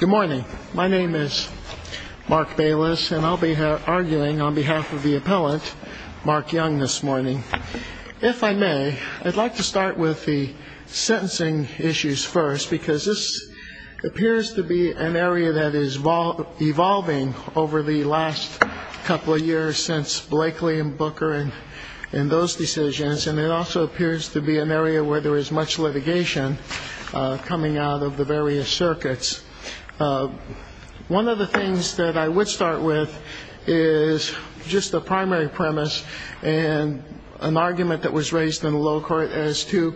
Good morning. My name is Mark Bayless, and I'll be arguing on behalf of the appellant, Mark Youngman, this morning. If I may, I'd like to start with the sentencing issues first, because this appears to be an area that is evolving over the last couple of years since Blakely and Booker and those decisions, and it also appears to be an area where there is much litigation coming out of the various circuits. One of the things that I would start with is just the primary premise and an argument that was raised in the low court as to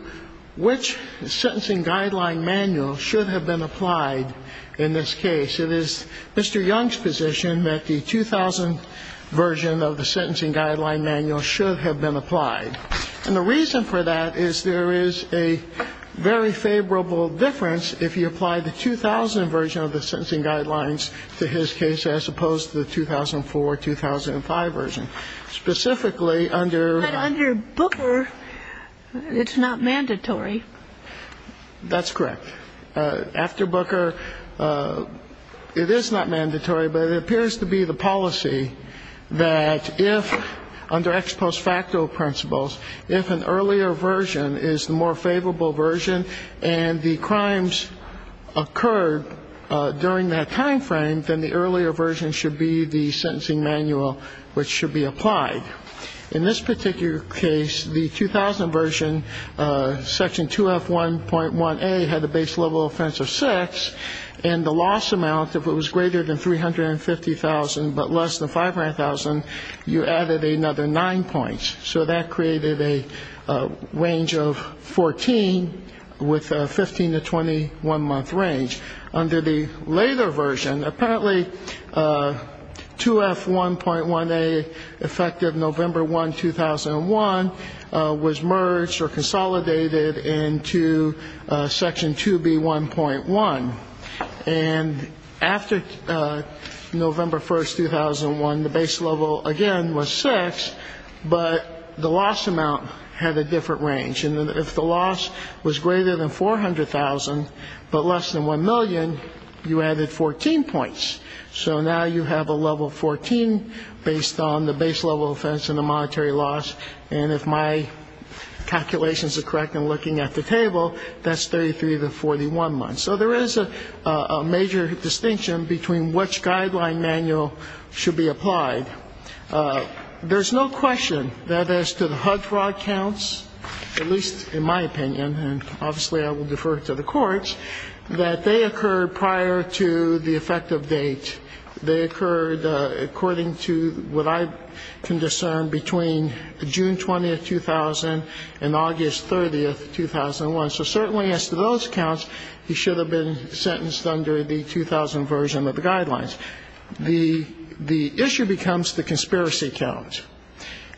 which sentencing guideline manual should have been applied in this case. It is Mr. Young's position that the 2000 version of the sentencing guideline manual should have been applied. And the reason for that is there is a very favorable difference if you apply the 2000 version of the sentencing guidelines to his case as opposed to the 2004, 2005 version. Specifically, under ‑‑ But under Booker, it's not mandatory. That's correct. After Booker, it is not mandatory, but it appears to be the policy that if, under ex post facto principles, if an earlier version is the more favorable version and the crimes occurred during that time frame, then the earlier version should be the sentencing manual which should be applied. In this particular case, the 2000 version, section 2F1.1A had a base level offense of six, and the loss amount, if it was greater than 350,000 but less than 500,000, you added another nine points. So that created a range of 14 with a 15‑21 month range. Under the later version, apparently 2F1.1A, effective November 1, 2001, was merged or consolidated into section 2B1.1. And after November 1, 2001, the base level, again, was six, but the loss amount had a different range. And if the loss was greater than 400,000 but less than 1 million, you added 14 points. So now you have a level 14 based on the base level offense and the monetary loss. And if my calculations are correct in looking at the table, that's 33 to 41 months. So there is a major distinction between which guideline manual should be applied. There's no question that as to the HUD fraud counts, at least in my opinion, and obviously I will defer to the courts, that they occurred prior to the effective date. They occurred according to what I can discern between June 20, 2000, and August 30, 2001. So certainly as to those counts, he should have been sentenced under the 2000 version of the guidelines. The issue becomes the conspiracy count.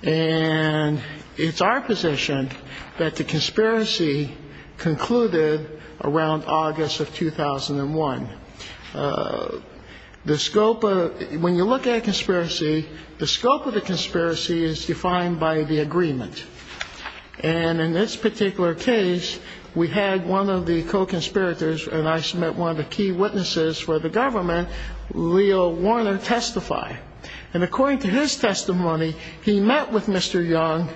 And it's our position that the conspiracy concluded around August of 2001. The scope of the ‑‑ when you look at a conspiracy, the scope of the conspiracy is defined by the agreement. And in this particular case, we had one of the co‑conspirators and I submit one of the key witnesses for the government, Leo Warner, testify. And according to his testimony, he met with Mr. Young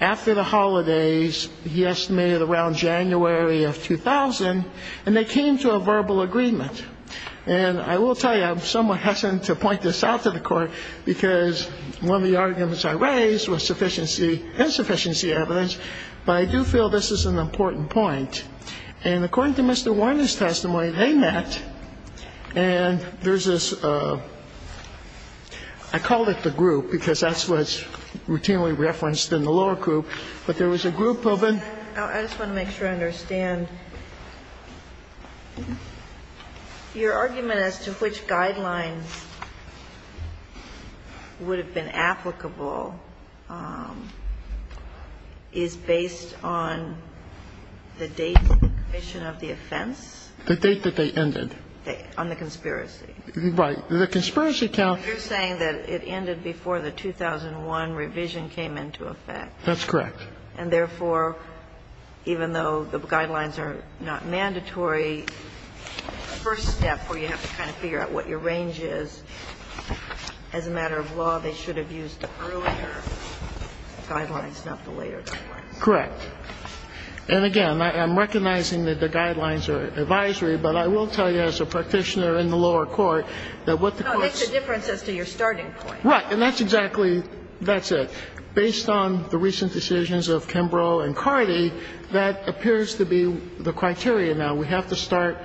after the holidays, he estimated around January of 2000, and they came to a verbal agreement. And I will tell you, I'm somewhat hesitant to point this out to the court, because one of the arguments I raised was sufficiency, insufficiency evidence, but I do feel this is an important point. And according to Mr. Warner's testimony, they met, and there's this ‑‑ I called it the group, because that's what's routinely referenced in the lower group, but there was a group of ‑‑ I just want to make sure I understand. Your argument as to which guidelines would have been applicable is based on the date of the commission of the offense? The date that they ended. On the conspiracy. Right. The conspiracy count ‑‑ You're saying that it ended before the 2001 revision came into effect. That's correct. And therefore, even though the guidelines are not mandatory, the first step where you have to kind of figure out what your range is, as a matter of law, they should have used the earlier guidelines, not the later guidelines. Correct. And again, I'm recognizing that the guidelines are advisory, but I will tell you, as a practitioner in the lower court, that what the courts ‑‑ No, it makes a difference as to your starting point. Right. And that's exactly ‑‑ that's it. Based on the recent decisions of Kimbrough and Cardi, that appears to be the criteria now. We have to start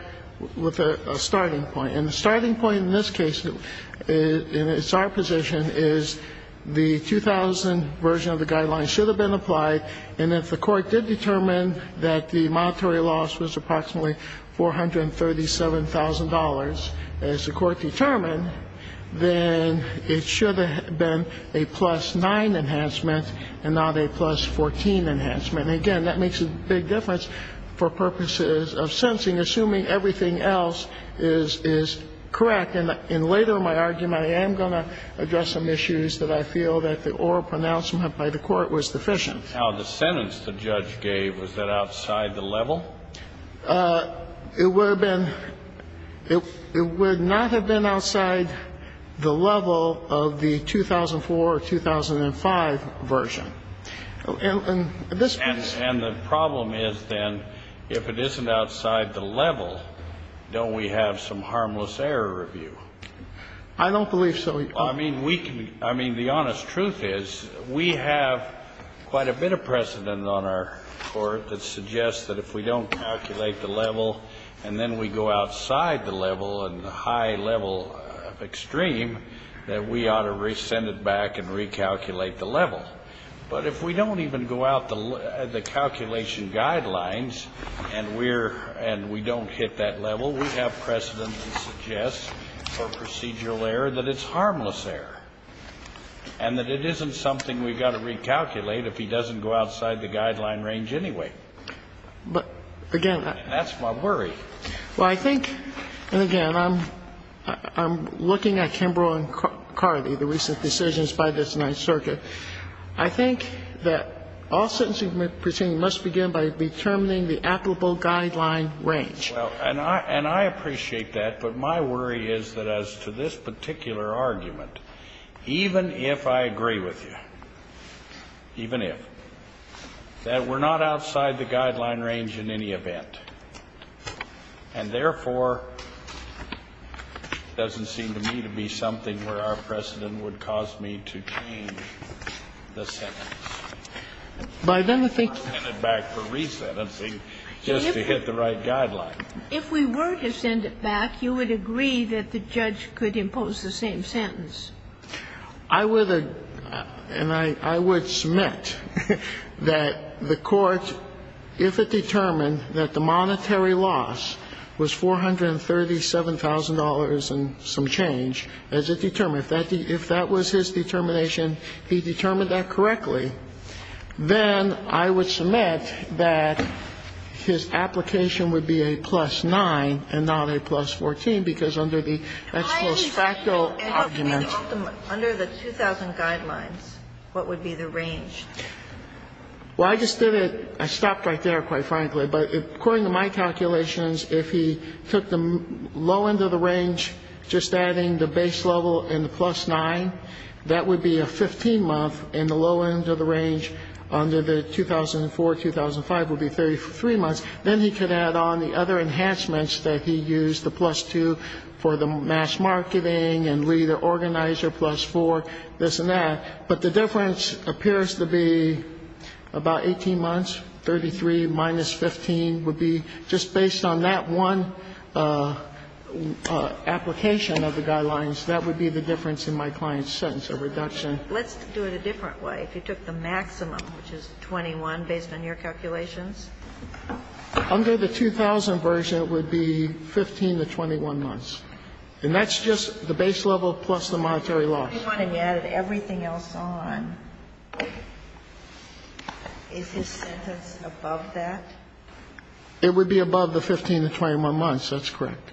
with a starting point. And the starting point in this case, and it's our position, is the 2000 version of the guidelines should have been applied, and if the court did determine that the monetary loss was approximately $437,000, as the court determined, then it should have been a plus 9 enhancement and not a plus 14 enhancement. And again, that makes a big difference for purposes of sentencing, assuming everything else is correct. And later in my argument, I am going to address some issues that I feel that the oral pronouncement by the court was deficient. Now, the sentence the judge gave, was that outside the level? It would have been ‑‑ it would not have been outside the level of the 2004 or 2005 version. And this ‑‑ And the problem is, then, if it isn't outside the level, don't we have some harmless error review? I don't believe so. I mean, we can ‑‑ I mean, the honest truth is, we have quite a bit of precedent on our court that suggests that if we don't calculate the level, and then we go outside the level and high level extreme, that we ought to send it back and recalculate the level. But if we don't even go out the calculation guidelines, and we're ‑‑ and we don't hit that level, we have precedent that suggests for procedural error that it's harmless error. And that it isn't something we've got to recalculate if he doesn't go outside the guideline range anyway. But, again, I ‑‑ And that's my worry. Well, I think, and again, I'm ‑‑ I'm looking at Kimbrough and Carthy, the recent decisions by this Ninth Circuit. I think that all sentencing proceedings must begin by determining the applicable guideline range. Well, and I ‑‑ and I appreciate that, but my worry is that as to this particular argument, even if I agree with you, even if, that we're not outside the guideline range in any event. And, therefore, it doesn't seem to me to be something where our precedent would cause me to change the sentence. By then, I think ‑‑ Well, if we were to send it back for resentency, just to hit the right guideline. If we were to send it back, you would agree that the judge could impose the same sentence. I would, and I would submit that the court, if it determined that the monetary loss was $437,000 and some change, as it determined, if that was his determination, he determined that correctly. Then I would submit that his application would be a plus 9 and not a plus 14, because under the ex post facto argument ‑‑ Under the 2000 guidelines, what would be the range? Well, I just did it. I stopped right there, quite frankly. But according to my calculations, if he took the low end of the range, just adding the base level and the plus 9, that would be a 15‑month, and the low end of the range under the 2004, 2005 would be 33 months. Then he could add on the other enhancements that he used, the plus 2 for the mass marketing and lead organizer, plus 4, this and that. But the difference appears to be about 18 months, 33 minus 15 would be just based on that one application of the guidelines. That would be the difference in my client's sentence, a reduction. Let's do it a different way. If he took the maximum, which is 21, based on your calculations? Under the 2000 version, it would be 15 to 21 months. And that's just the base level plus the monetary loss. If he wanted to add everything else on, is his sentence above that? It would be above the 15 to 21 months. That's correct.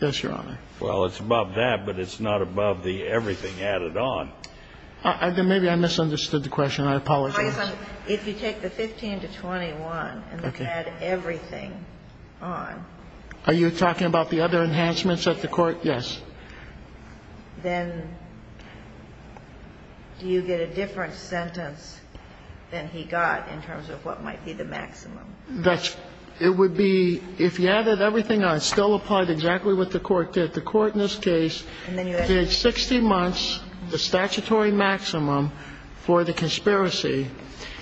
Yes, Your Honor. Well, it's above that, but it's not above the everything added on. Maybe I misunderstood the question. I apologize. If you take the 15 to 21 and add everything on. Are you talking about the other enhancements at the court? Yes. Then do you get a different sentence than he got in terms of what might be the maximum? It would be, if you added everything on, still applied exactly what the court did. The court in this case did 60 months, the statutory maximum, for the conspiracy,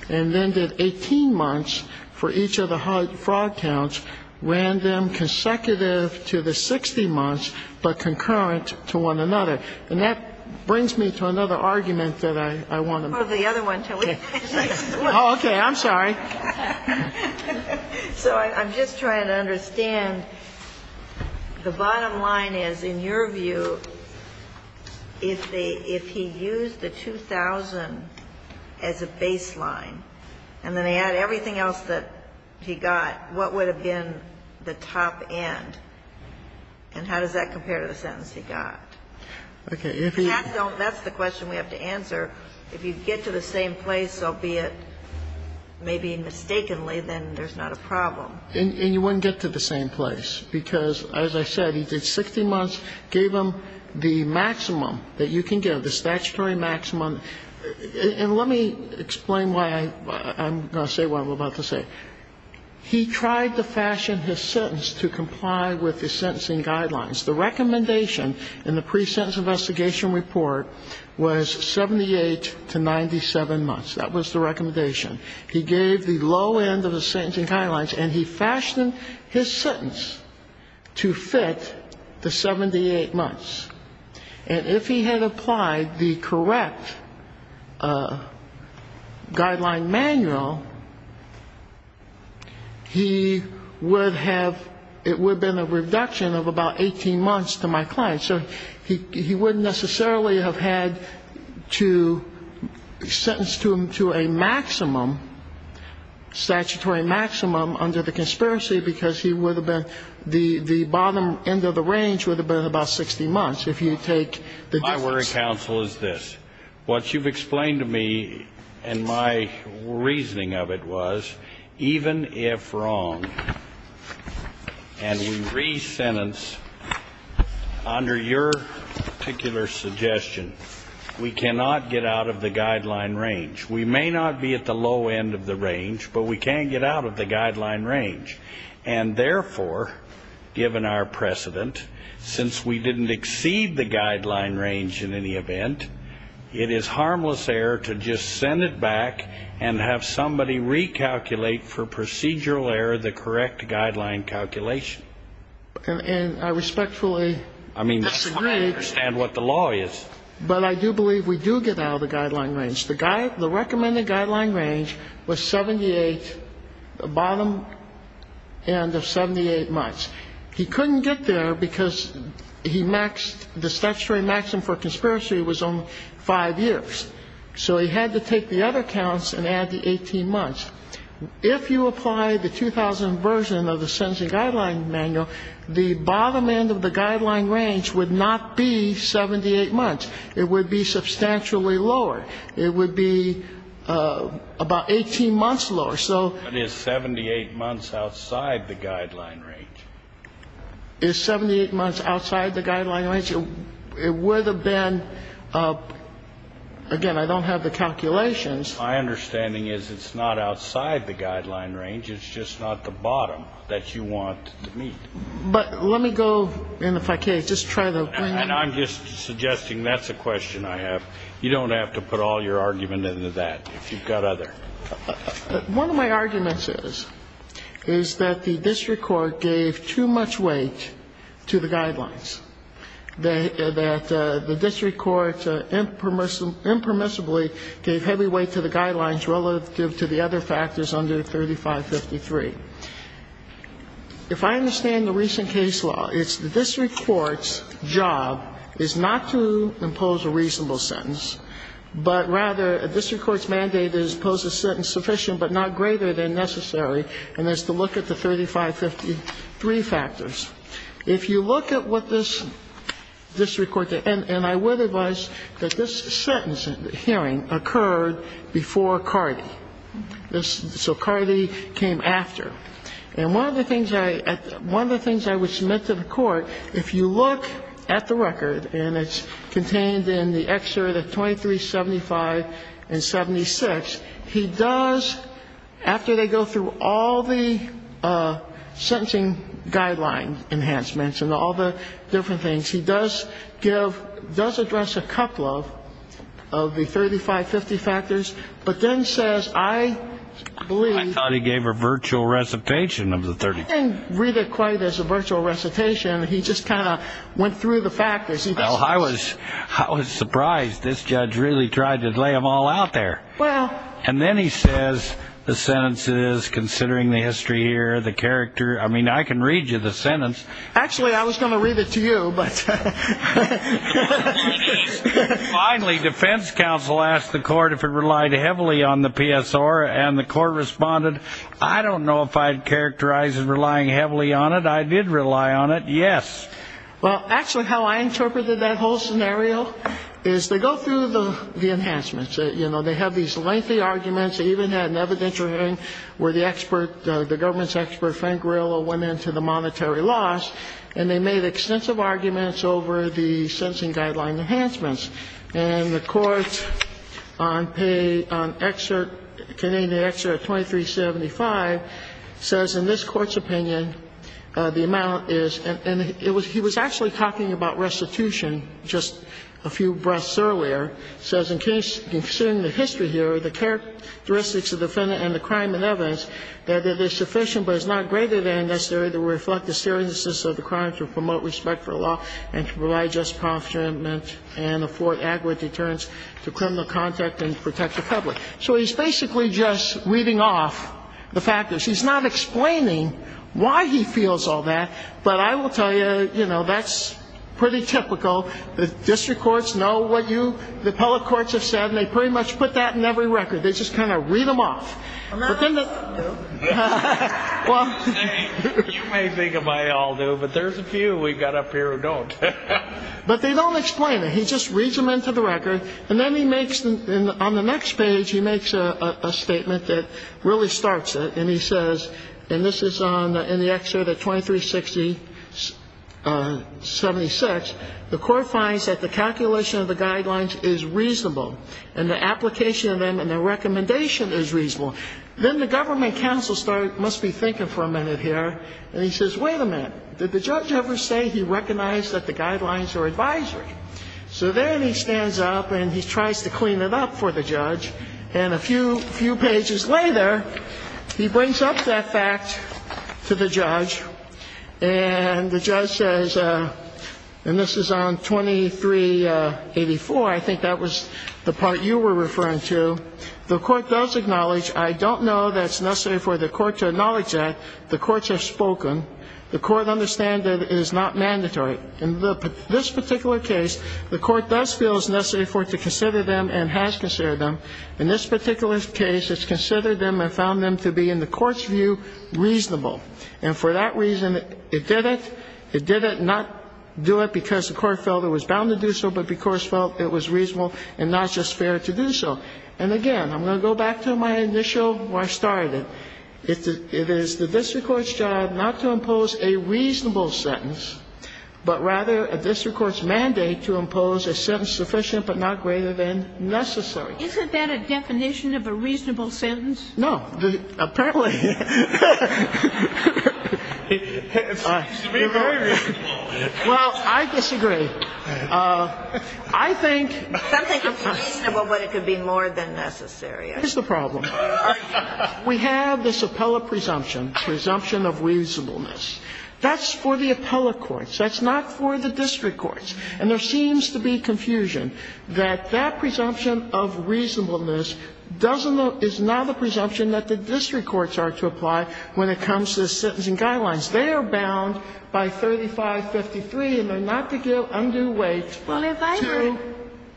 and then did 18 months for each of the fraud counts, ran them consecutive to the 60 months, but concurrent to one another. And that brings me to another argument that I want to make. Well, the other one, too. Oh, okay. I'm sorry. So I'm just trying to understand. The bottom line is, in your view, if he used the 2,000 as a baseline, and then they add everything else that he got, what would have been the top end? And how does that compare to the sentence he got? Okay. That's the question we have to answer. If you get to the same place, albeit maybe mistakenly, then there's not a problem. And you wouldn't get to the same place, because, as I said, he did 60 months, gave him the maximum that you can give, the statutory maximum. And let me explain why I'm going to say what I'm about to say. He tried to fashion his sentence to comply with the sentencing guidelines. The recommendation in the pre-sentence investigation report was 78 to 97 months. That was the recommendation. He gave the low end of the sentencing guidelines, and he fashioned his sentence to fit the 78 months. And if he had applied the correct guideline manual, he would have, it would have been a reduction of about 18 months to my client. So he wouldn't necessarily have had to sentence him to a maximum, statutory maximum, under the conspiracy, because he would have been, the bottom end of the range would have been about 60 months. If you take the distance. My worry, counsel, is this. What you've explained to me, and my reasoning of it was, even if wrong, and we re-sentence under your particular suggestion, we cannot get out of the guideline range. We may not be at the low end of the range, but we can't get out of the guideline range. And therefore, given our precedent, since we didn't exceed the guideline range in any event, it is harmless error to just send it back and have somebody recalculate for procedural error the correct guideline calculation. And I respectfully disagree. I mean, I understand what the law is. But I do believe we do get out of the guideline range. The recommended guideline range was 78, the bottom end of 78 months. He couldn't get there because he maxed, the statutory maximum for conspiracy was only five years. So he had to take the other counts and add the 18 months. If you apply the 2000 version of the Sentencing Guideline Manual, the bottom end of the guideline range would not be 78 months. It would be substantially lower. It would be about 18 months lower. But it's 78 months outside the guideline range. It's 78 months outside the guideline range. It would have been, again, I don't have the calculations. My understanding is it's not outside the guideline range. It's just not the bottom that you want to meet. But let me go, and if I can, just try to bring it up. And I'm just suggesting that's a question I have. You don't have to put all your argument into that if you've got other. One of my arguments is, is that the district court gave too much weight to the guidelines, that the district court impermissibly gave heavy weight to the guidelines relative to the other factors under 3553. If I understand the recent case law, it's the district court's job is not to impose a reasonable sentence, but rather a district court's mandate is to impose a sentence sufficient but not greater than necessary, and that's to look at the 3553 factors. If you look at what this district court did, and I would advise that this sentence hearing occurred before Cardi. So Cardi came after. And one of the things I would submit to the court, if you look at the record, and it's contained in the excerpt of 2375 and 76. He does, after they go through all the sentencing guideline enhancements and all the different things, he does give, does address a couple of the 3550 factors, but then says, I believe. I thought he gave a virtual recitation of the 3550. I didn't read it quite as a virtual recitation. He just kind of went through the factors. Well, I was surprised. This judge really tried to lay them all out there. And then he says, the sentence is, considering the history here, the character. I mean, I can read you the sentence. Actually, I was going to read it to you. Finally, defense counsel asked the court if it relied heavily on the PSR, and the court responded, I don't know if I'd characterize it relying heavily on it. I did rely on it, yes. Well, actually, how I interpreted that whole scenario is they go through the enhancements. You know, they have these lengthy arguments. They even had an evidentiary hearing where the government's expert, Frank Grillo, went into the monetary loss, and they made extensive arguments over the sentencing guideline enhancements. And the court on Canadian excerpt 2375 says, in this court's opinion, the amount is. And he was actually talking about restitution just a few breaths earlier. He says, in case, considering the history here, the characteristics of the defendant and the crime and evidence, that it is sufficient but is not greater than necessary to reflect the seriousness of the crime, to promote respect for law, and to provide just punishment and afford adequate deterrence to criminal contact and protect the public. So he's basically just reading off the factors. He's not explaining why he feels all that. But I will tell you, you know, that's pretty typical. The district courts know what you, the public courts, have said, and they pretty much put that in every record. They just kind of read them off. I'm not saying they all do. You may think they all do, but there's a few we've got up here who don't. But they don't explain it. He just reads them into the record, and then he makes, on the next page, he makes a statement that really starts it. And he says, and this is in the excerpt at 2360.76, the court finds that the calculation of the guidelines is reasonable and the application of them and the recommendation is reasonable. Then the government counsel must be thinking for a minute here, and he says, wait a minute. Did the judge ever say he recognized that the guidelines are advisory? So then he stands up and he tries to clean it up for the judge. And a few pages later, he brings up that fact to the judge, and the judge says, and this is on 2384. I think that was the part you were referring to. The court does acknowledge, I don't know that it's necessary for the court to acknowledge that. The courts have spoken. The court understands that it is not mandatory. In this particular case, the court does feel it's necessary for it to consider them and has considered them. In this particular case, it's considered them and found them to be, in the court's view, reasonable. And for that reason, it did it. It did it and not do it because the court felt it was bound to do so but because it felt it was reasonable and not just fair to do so. And, again, I'm going to go back to my initial where I started. It is the district court's job not to impose a reasonable sentence, but rather a district court's mandate to impose a sentence sufficient but not greater than necessary. Isn't that a definition of a reasonable sentence? No. Apparently. It seems to be very reasonable. Well, I disagree. I think. Something reasonable, but it could be more than necessary. Here's the problem. We have this appellate presumption, presumption of reasonableness. That's for the appellate courts. That's not for the district courts. And there seems to be confusion that that presumption of reasonableness doesn't now the presumption that the district courts are to apply when it comes to the sentencing guidelines. They are bound by 3553, and they're not to give undue weight to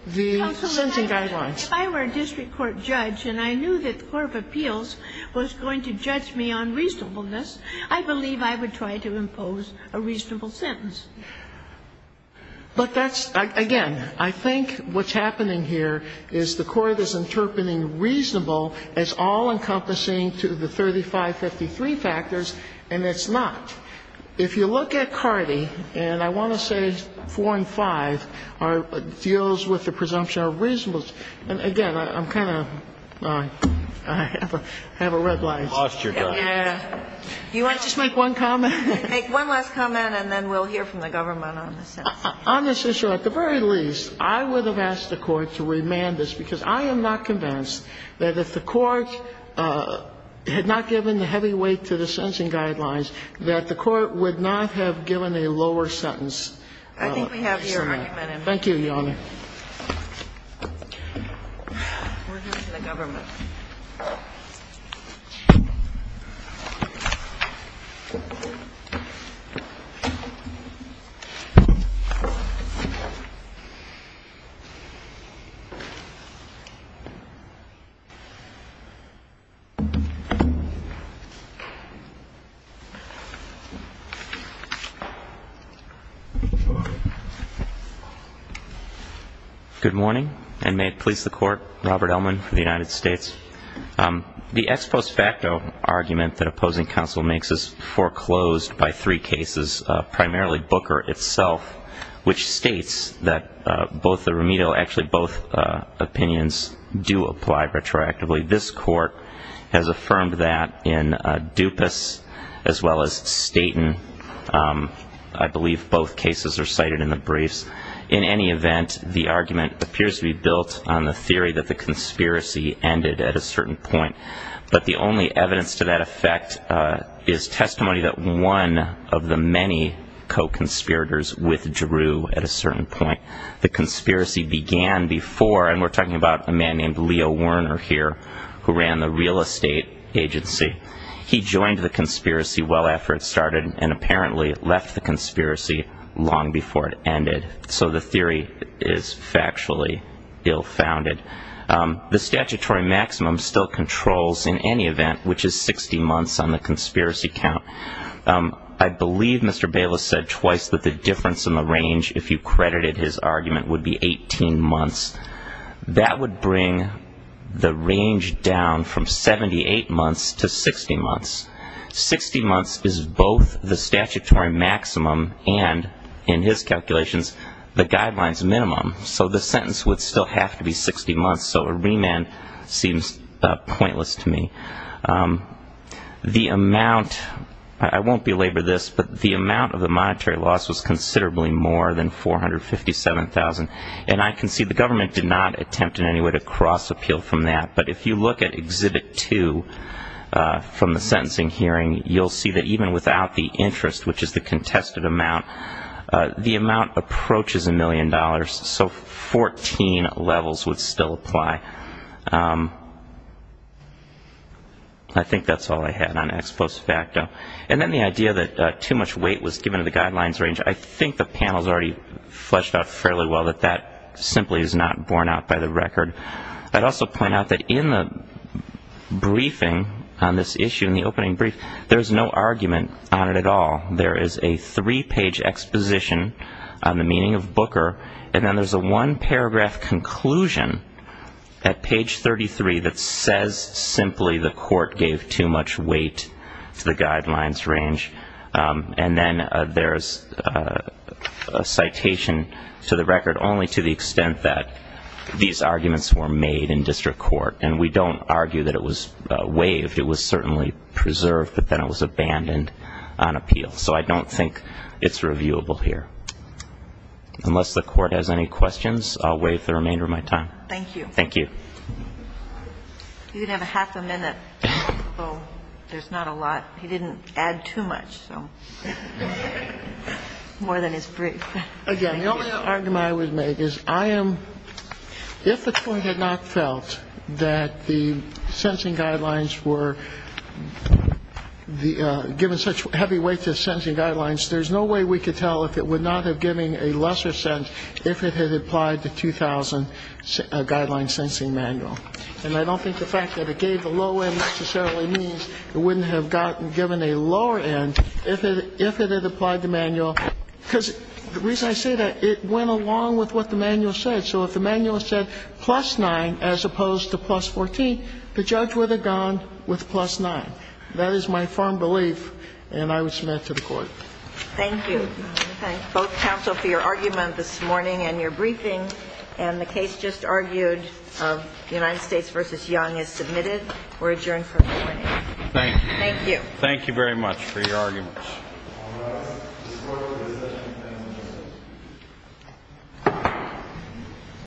the sentencing guidelines. If I were a district court judge and I knew that the court of appeals was going to judge me on reasonableness, I believe I would try to impose a reasonable sentence. But that's, again, I think what's happening here is the court is interpreting reasonable as all-encompassing to the 3553 factors, and it's not. If you look at Cardi, and I want to say 4 and 5 are deals with the presumption of reasonableness, and, again, I'm kind of, I have a red light. I've lost your judge. Sotomayor. Can I just make one comment? Take one last comment and then we'll hear from the government on the sentencing. Honestly, Your Honor, at the very least, I would have asked the Court to remand this, because I am not convinced that if the Court had not given the heavy weight to the sentencing guidelines, that the Court would not have given a lower sentence penalty. I think we have here a recommended measure. Thank you, Your Honor. We'll hear from the government. Good morning, and may it please the Court, Robert Ellman for the United States. The ex post facto argument that opposing counsel makes is foreclosed by three cases, primarily Booker itself, which states that both the remedial, actually both opinions, do apply retroactively. This Court has affirmed that in Dupas as well as Staten. I believe both cases are cited in the briefs. In any event, the argument appears to be built on the theory that the conspiracy ended at a certain point. But the only evidence to that effect is testimony that one of the many co-conspirators withdrew at a certain point. The conspiracy began before, and we're talking about a man named Leo Werner here, who ran the real estate agency. He joined the conspiracy well after it started and apparently left the conspiracy long before it ended. So the theory is factually ill-founded. The statutory maximum still controls, in any event, which is 60 months on the conspiracy count. I believe Mr. Bayless said twice that the difference in the range, if you credited his argument, would be 18 months. That would bring the range down from 78 months to 60 months. 60 months is both the statutory maximum and, in his calculations, the guidelines minimum. So the sentence would still have to be 60 months. So a remand seems pointless to me. The amount, I won't belabor this, but the amount of the monetary loss was considerably more than $457,000. And I concede the government did not attempt in any way to cross-appeal from that. But if you look at Exhibit 2 from the sentencing hearing, you'll see that even without the interest, which is the contested amount, the amount approaches $1 million. So 14 levels would still apply. I think that's all I had on ex post facto. And then the idea that too much weight was given to the guidelines range, I think the panel has already fleshed out fairly well that that simply is not borne out by the record. I'd also point out that in the briefing on this issue, in the opening brief, there's no argument on it at all. There is a three-page exposition on the meaning of booker, and then there's a one-paragraph conclusion at page 33 that says simply the court gave too much weight to the guidelines range. And then there's a citation to the record only to the extent that these arguments were made in district court. And we don't argue that it was waived. It was certainly preserved, but then it was abandoned on appeal. So I don't think it's reviewable here. Unless the Court has any questions, I'll waive the remainder of my time. Thank you. Thank you. You have half a minute. There's not a lot. He didn't add too much, so more than his brief. Again, the only argument I would make is I am, if the Court had not felt that the sentencing guidelines were given such heavy weight to the sentencing guidelines, there's no way we could tell if it would not have given a lesser sense if it had applied the 2000 guideline sentencing manual. And I don't think the fact that it gave the low end necessarily means it wouldn't have gotten given a lower end if it had applied the manual. Because the reason I say that, it went along with what the manual said. So if the manual said plus 9 as opposed to plus 14, the judge would have gone with plus 9. That is my firm belief, and I would submit it to the Court. Thank you. I thank both counsel for your argument this morning and your briefing and the case just argued of the United States v. Young as submitted. We're adjourned for the morning. Thank you. Thank you. Thank you very much for your arguments.